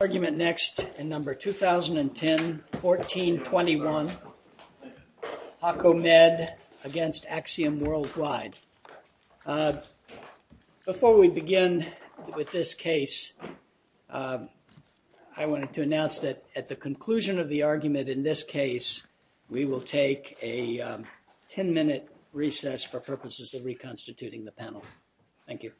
Argument next in number 2010-14-21, HAKO-MED v. AXIOM WORLDWIDE. Before we begin with this case, I wanted to announce that at the conclusion of the argument in this case, we will take a 10-minute recess for purposes of reconstituting the panel. Thank you.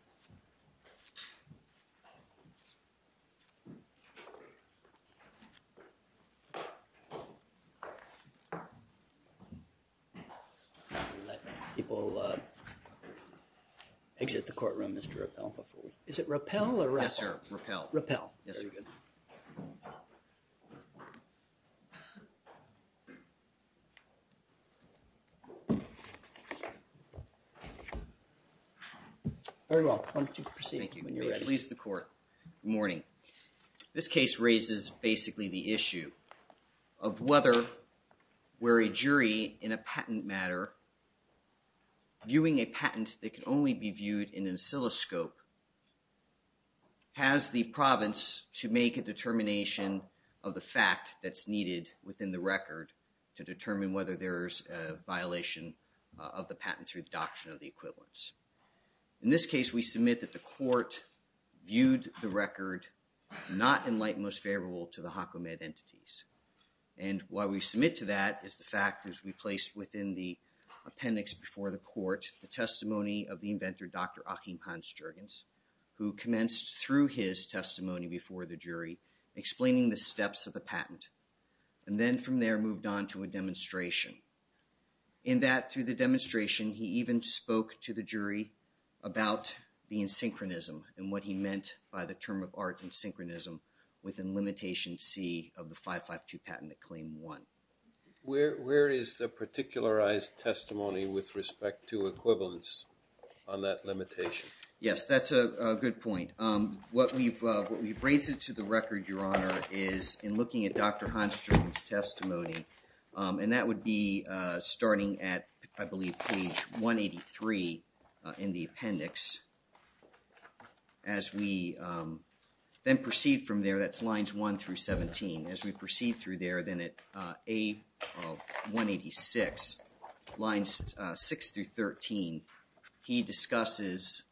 I'll let people exit the courtroom, Mr. Rappel. Is it Rappel or Rappel? Yes, sir. Rappel. Rappel. Very good. Very well. Why don't you proceed when you're ready. Thank you. Please, the court. Good morning. This case raises basically the issue of whether where a jury in a patent matter, viewing a patent that can only be viewed in an oscilloscope, has the province to make a determination of the fact that's needed within the record to determine whether there's a violation of the patent through the adoption of the equivalents. In this case, we submit that the court viewed the record not in light most favorable to the HAKO-MED entities. And why we submit to that is the fact that we placed within the appendix before the court the testimony of the inventor, Dr. Achim Hans-Juergens, who commenced through his testimony before the jury, explaining the steps of the patent, and then from there moved on to a demonstration. In that, through the demonstration, he even spoke to the jury about the in-synchronism and what he meant by the term of art in-synchronism within Limitation C of the 552 Patent Claim 1. Where is the particularized testimony with respect to equivalence on that limitation? Yes, that's a good point. What we've raised to the record, Your Honor, is in looking at Dr. Hans-Juergens' testimony, and that would be starting at, I believe, page 183 in the appendix. As we then proceed from there, that's lines 1 through 17. As we proceed through there, then at A of 186, lines 6 through 13, he discusses,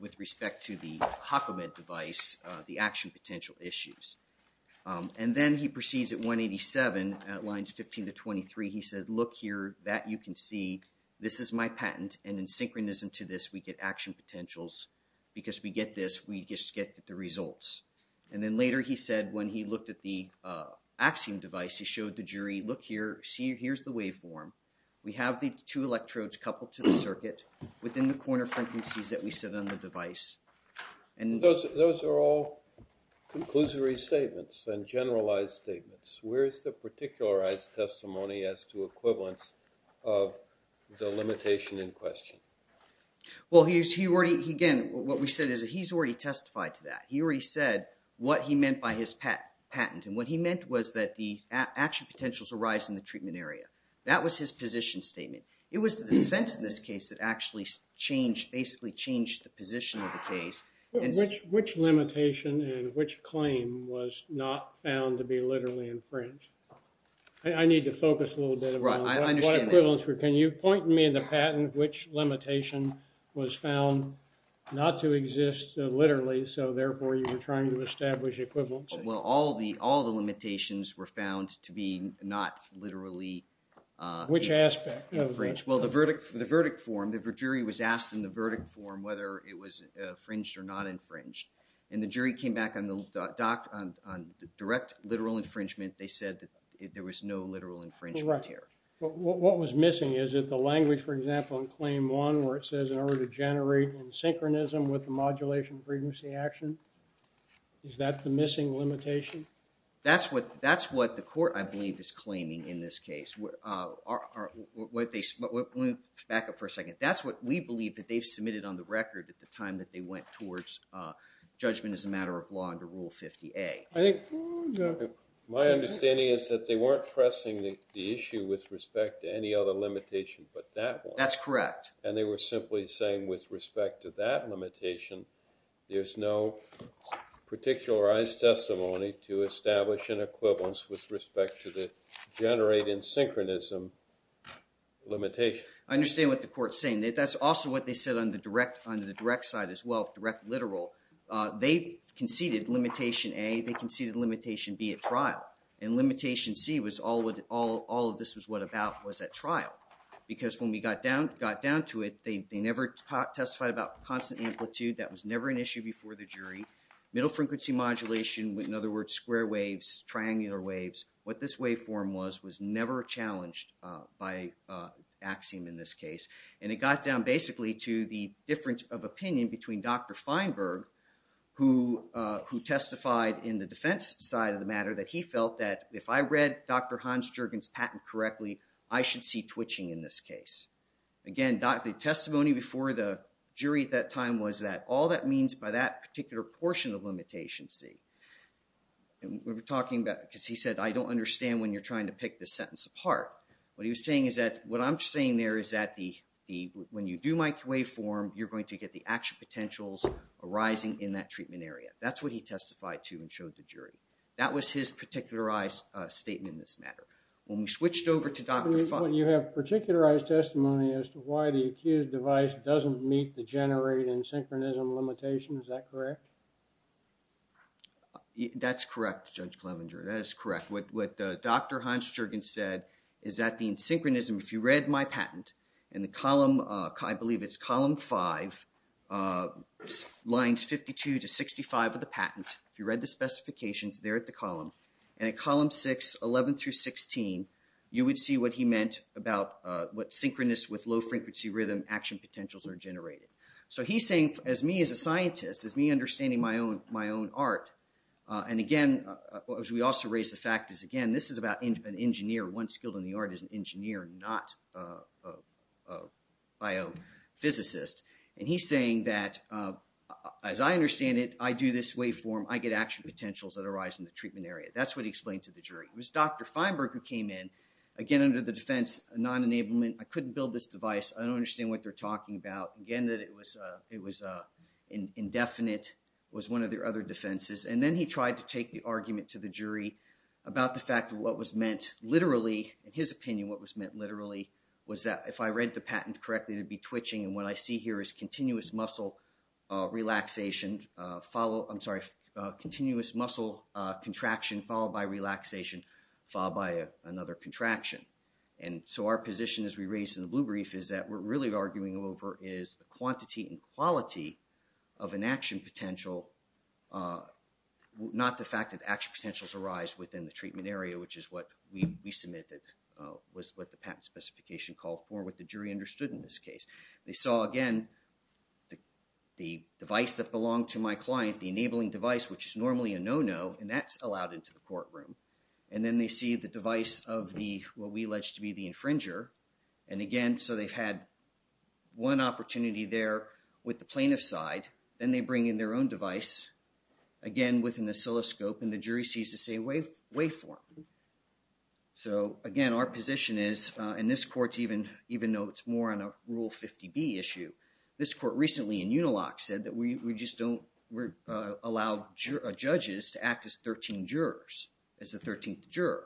with respect to the HAKO-MED device, the action potential issues. And then he proceeds at 187, at lines 15 to 23, he said, look here, that you can see, this is my patent, and in synchronism to this, we get action potentials. Because we get this, we just get the results. And then later, he said, when he looked at the Axiom device, he showed the jury, look here, here's the waveform. We have the two electrodes coupled to the circuit within the corner frequencies that we set on the device. Those are all conclusory statements and generalized statements. Where is the particularized testimony as to equivalence of the limitation in question? Well, he already, again, what we said is that he's already testified to that. He already said what he meant by his patent. And what he meant was that the action potentials arise in the treatment area. That was his position statement. It was the defense in this case that actually changed, basically changed the position of the case. Which limitation and which claim was not found to be literally in print? I need to focus a little bit. Right, I understand that. Can you point me in the patent which limitation was found not to exist literally, so therefore you were trying to establish equivalence? Well, all the limitations were found to be not literally. Which aspect? Well, the verdict form. The jury was asked in the verdict form whether it was infringed or not infringed. And the jury came back on the direct literal infringement. They said that there was no literal infringement here. What was missing? Is it the language, for example, in claim one where it says in order to generate in synchronism with the modulation frequency action? Is that the missing limitation? That's what the court, I believe, is claiming in this case. Let me back up for a second. That's what we believe that they've submitted on the record at the time that they went towards judgment as a matter of law under Rule 50A. My understanding is that they weren't pressing the issue with respect to any other limitation but that one. That's correct. And they were simply saying with respect to that limitation, there's no particularized testimony to establish an equivalence with respect to the generating synchronism limitation. I understand what the court's saying. That's also what they said on the direct side as well, direct literal. They conceded limitation A. They conceded limitation B at trial. And limitation C was all of this was what about was at trial. Because when we got down to it, they never testified about constant amplitude. That was never an issue before the jury. Middle frequency modulation, in other words, square waves, triangular waves. What this waveform was was never challenged by axiom in this case. And it got down basically to the difference of opinion between Dr. Feinberg, who testified in the defense side of the matter, that he felt that if I read Dr. Hans Juergens' patent correctly, I should see twitching in this case. Again, the testimony before the jury at that time was that all that means by that particular portion of limitation C. We were talking about, because he said, I don't understand when you're trying to pick the sentence apart. What he was saying is that what I'm saying there is that when you do microwave form, you're going to get the action potentials arising in that treatment area. That's what he testified to and showed the jury. That was his particularized statement in this matter. When we switched over to Dr. Feinberg. When you have particularized testimony as to why the accused device doesn't meet the generate and synchronism limitations, is that correct? That's correct, Judge Clevenger. That is correct. What Dr. Hans Juergens said is that the synchronism, if you read my patent, in the column, I believe it's column five, lines 52 to 65 of the patent. If you read the specifications, they're at the column. And at column six, 11 through 16, you would see what he meant about what synchronous with low frequency rhythm action potentials are generated. So he's saying, as me as a scientist, as me understanding my own art, and again, as we also raise the fact is, again, this is about an engineer. One skilled in the art is an engineer, not a biophysicist. And he's saying that, as I understand it, I do this waveform, I get action potentials that arise in the treatment area. That's what he explained to the jury. It was Dr. Feinberg who came in, again, under the defense of non-enablement. I couldn't build this device. I don't understand what they're talking about. Again, that it was indefinite was one of their other defenses. And then he tried to take the argument to the jury about the fact of what was meant literally. In his opinion, what was meant literally was that, if I read the patent correctly, it would be twitching. And what I see here is continuous muscle relaxation, follow, I'm sorry, continuous muscle contraction followed by relaxation followed by another contraction. And so our position, as we raised in the blue brief, is that what we're really arguing over is the quantity and quality of an action potential, not the fact that action potentials arise within the treatment area, which is what we submitted, was what the patent specification called for, what the jury understood in this case. They saw, again, the device that belonged to my client, the enabling device, which is normally a no-no, and that's allowed into the courtroom. And then they see the device of what we alleged to be the infringer. And again, so they've had one opportunity there with the plaintiff's side. Then they bring in their own device, again, with an oscilloscope, and the jury sees the same waveform. So, again, our position is, and this court, even though it's more on a Rule 50B issue, this court recently in Unilock said that we just don't allow judges to act as 13 jurors, as the 13th juror.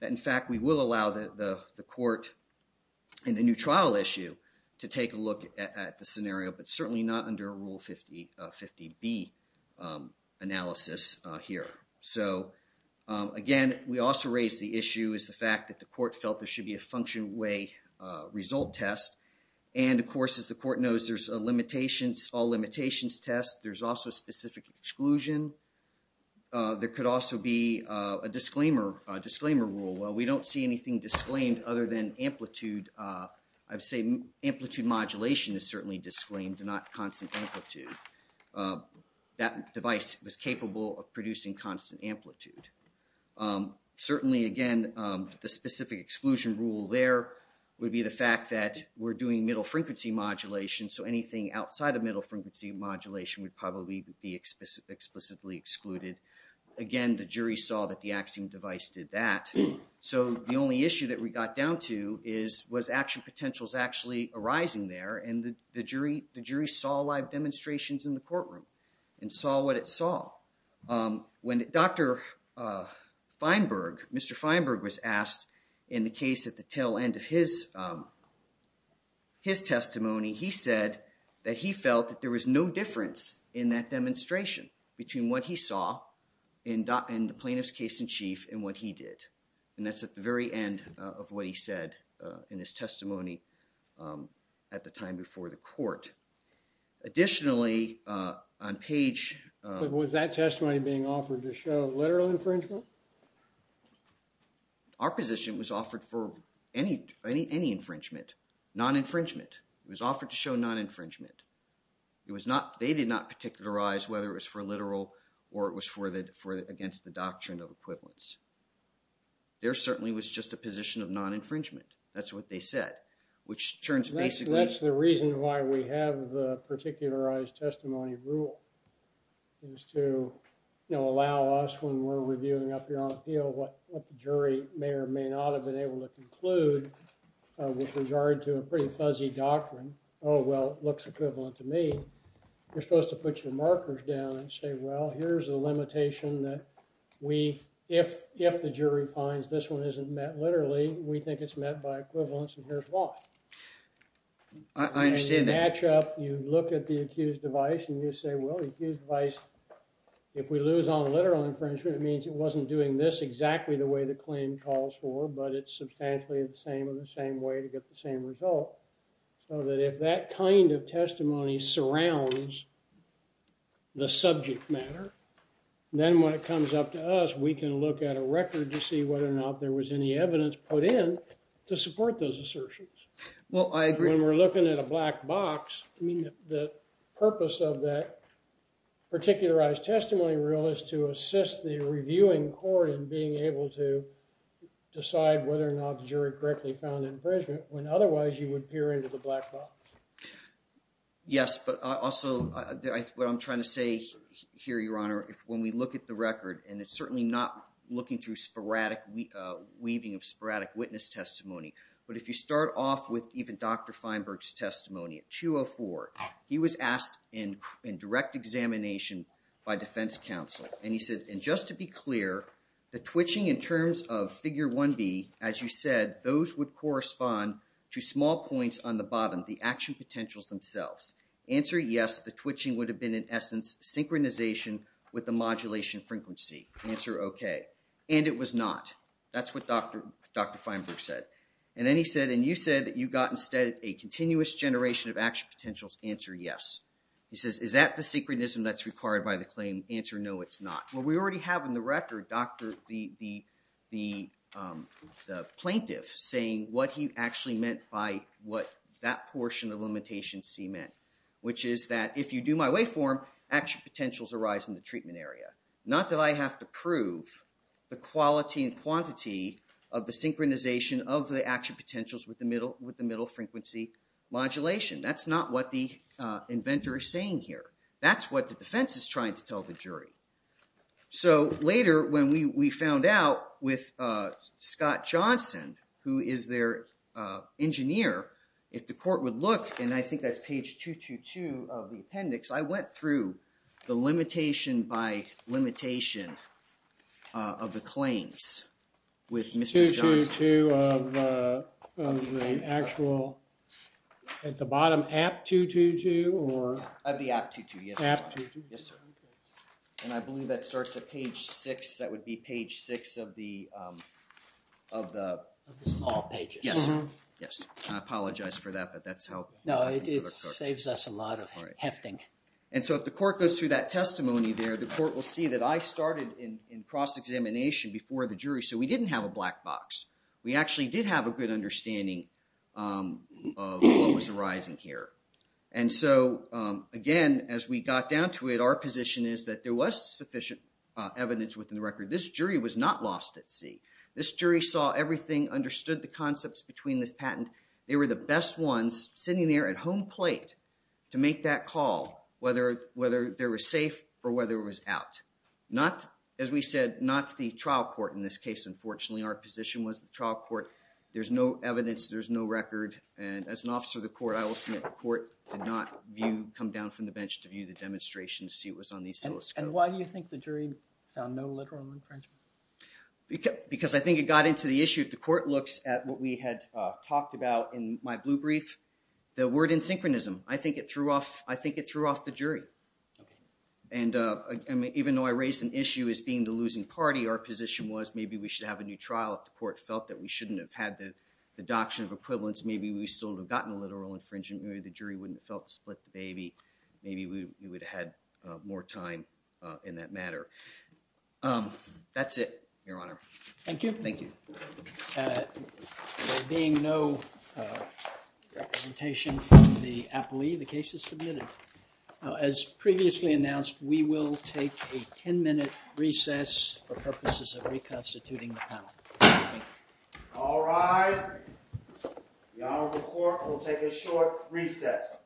In fact, we will allow the court in the new trial issue to take a look at the scenario, but certainly not under Rule 50B analysis here. So, again, we also raised the issue is the fact that the court felt there should be a function way result test. And, of course, as the court knows, there's a limitations, all limitations test. There's also specific exclusion. There could also be a disclaimer rule. Well, we don't see anything disclaimed other than amplitude. I would say amplitude modulation is certainly disclaimed and not constant amplitude. That device was capable of producing constant amplitude. Certainly, again, the specific exclusion rule there would be the fact that we're doing middle frequency modulation, so anything outside of middle frequency modulation would probably be explicitly excluded. Again, the jury saw that the Axiom device did that. So the only issue that we got down to was action potentials actually arising there, and the jury saw live demonstrations in the courtroom and saw what it saw. When Dr. Feinberg, Mr. Feinberg was asked in the case at the tail end of his testimony, he said that he felt that there was no difference in that demonstration between what he saw in the plaintiff's case in chief and what he did. And that's at the very end of what he said in his testimony at the time before the court. Additionally, on page… Was that testimony being offered to show literal infringement? Our position was offered for any infringement, non-infringement. It was offered to show non-infringement. They did not particularize whether it was for literal or it was against the doctrine of equivalence. There certainly was just a position of non-infringement. That's what they said, which turns basically… And that's the reason why we have the particularized testimony rule, is to, you know, allow us when we're reviewing up here on appeal what the jury may or may not have been able to conclude with regard to a pretty fuzzy doctrine, oh, well, it looks equivalent to me. You're supposed to put your markers down and say, well, here's a limitation that we, if the jury finds this one isn't met literally, we think it's met by equivalence and here's why. I understand that. You match up, you look at the accused device and you say, well, the accused device, if we lose on a literal infringement, it means it wasn't doing this exactly the way the claim calls for, but it's substantially the same or the same way to get the same result. So that if that kind of testimony surrounds the subject matter, then when it comes up to us, we can look at a record to see whether or not there was any evidence put in to support those assertions. Well, I agree. When we're looking at a black box, I mean, the purpose of that particularized testimony rule is to assist the reviewing court in being able to decide whether or not the jury correctly found infringement when otherwise you would peer into the black box. Yes, but also what I'm trying to say here, Your Honor, if when we look at the record and it's certainly not looking through sporadic weaving of sporadic witness testimony, but if you start off with even Dr. Feinberg's testimony at 204, he was asked in direct examination by defense counsel and he said, and just to be clear, the twitching in terms of figure 1B, as you said, those would correspond to small points on the bottom, the action potentials themselves. Answer, yes, the twitching would have been in essence synchronization with the modulation frequency. Answer, OK. And it was not. That's what Dr. Feinberg said. And then he said, and you said that you got instead a continuous generation of action potentials. Answer, yes. He says, is that the synchronism that's required by the claim? Answer, no, it's not. Well, we already have in the record the plaintiff saying what he actually meant by what that portion of limitation C meant, which is that if you do my waveform, action potentials arise in the treatment area. Not that I have to prove the quality and quantity of the synchronization of the action potentials with the middle frequency modulation. That's not what the inventor is saying here. That's what the defense is trying to tell the jury. So later when we found out with Scott Johnson, who is their engineer, if the court would look, and I think that's page 222 of the appendix, I went through the limitation by limitation of the claims with Mr. Johnson. 222 of the actual, at the bottom, app 222, or? Of the app 222, yes. App 222. Yes, sir. And I believe that starts at page six. That would be page six of the law pages. Yes. Yes. I apologize for that, but that's how. No, it saves us a lot of hefting. And so if the court goes through that testimony there, the court will see that I started in cross-examination before the jury. So we didn't have a black box. We actually did have a good understanding of what was arising here. And so, again, as we got down to it, our position is that there was sufficient evidence within the record. This jury was not lost at sea. This jury saw everything, understood the concepts between this patent. They were the best ones sitting there at home plate to make that call, whether there was safe or whether it was out. As we said, not the trial court in this case, unfortunately. Our position was the trial court. There's no evidence. There's no record. And as an officer of the court, I will submit the court did not come down from the bench to view the demonstration to see what was on the oscilloscope. And why do you think the jury found no literal infringement? Because I think it got into the issue. The court looks at what we had talked about in my blue brief, the word in synchronism. I think it threw off the jury. And even though I raised an issue as being the losing party, our position was maybe we should have a new trial. The court felt that we shouldn't have had the deduction of equivalence. Maybe we still have gotten a literal infringement. Maybe the jury wouldn't have felt split the baby. Maybe we would have had more time in that matter. That's it, Your Honor. Thank you. Thank you. Being no representation from the appellee, the case is submitted. As previously announced, we will take a ten-minute recess for purposes of reconstituting the panel. Thank you. All rise. The Honorable Court will take a short recess.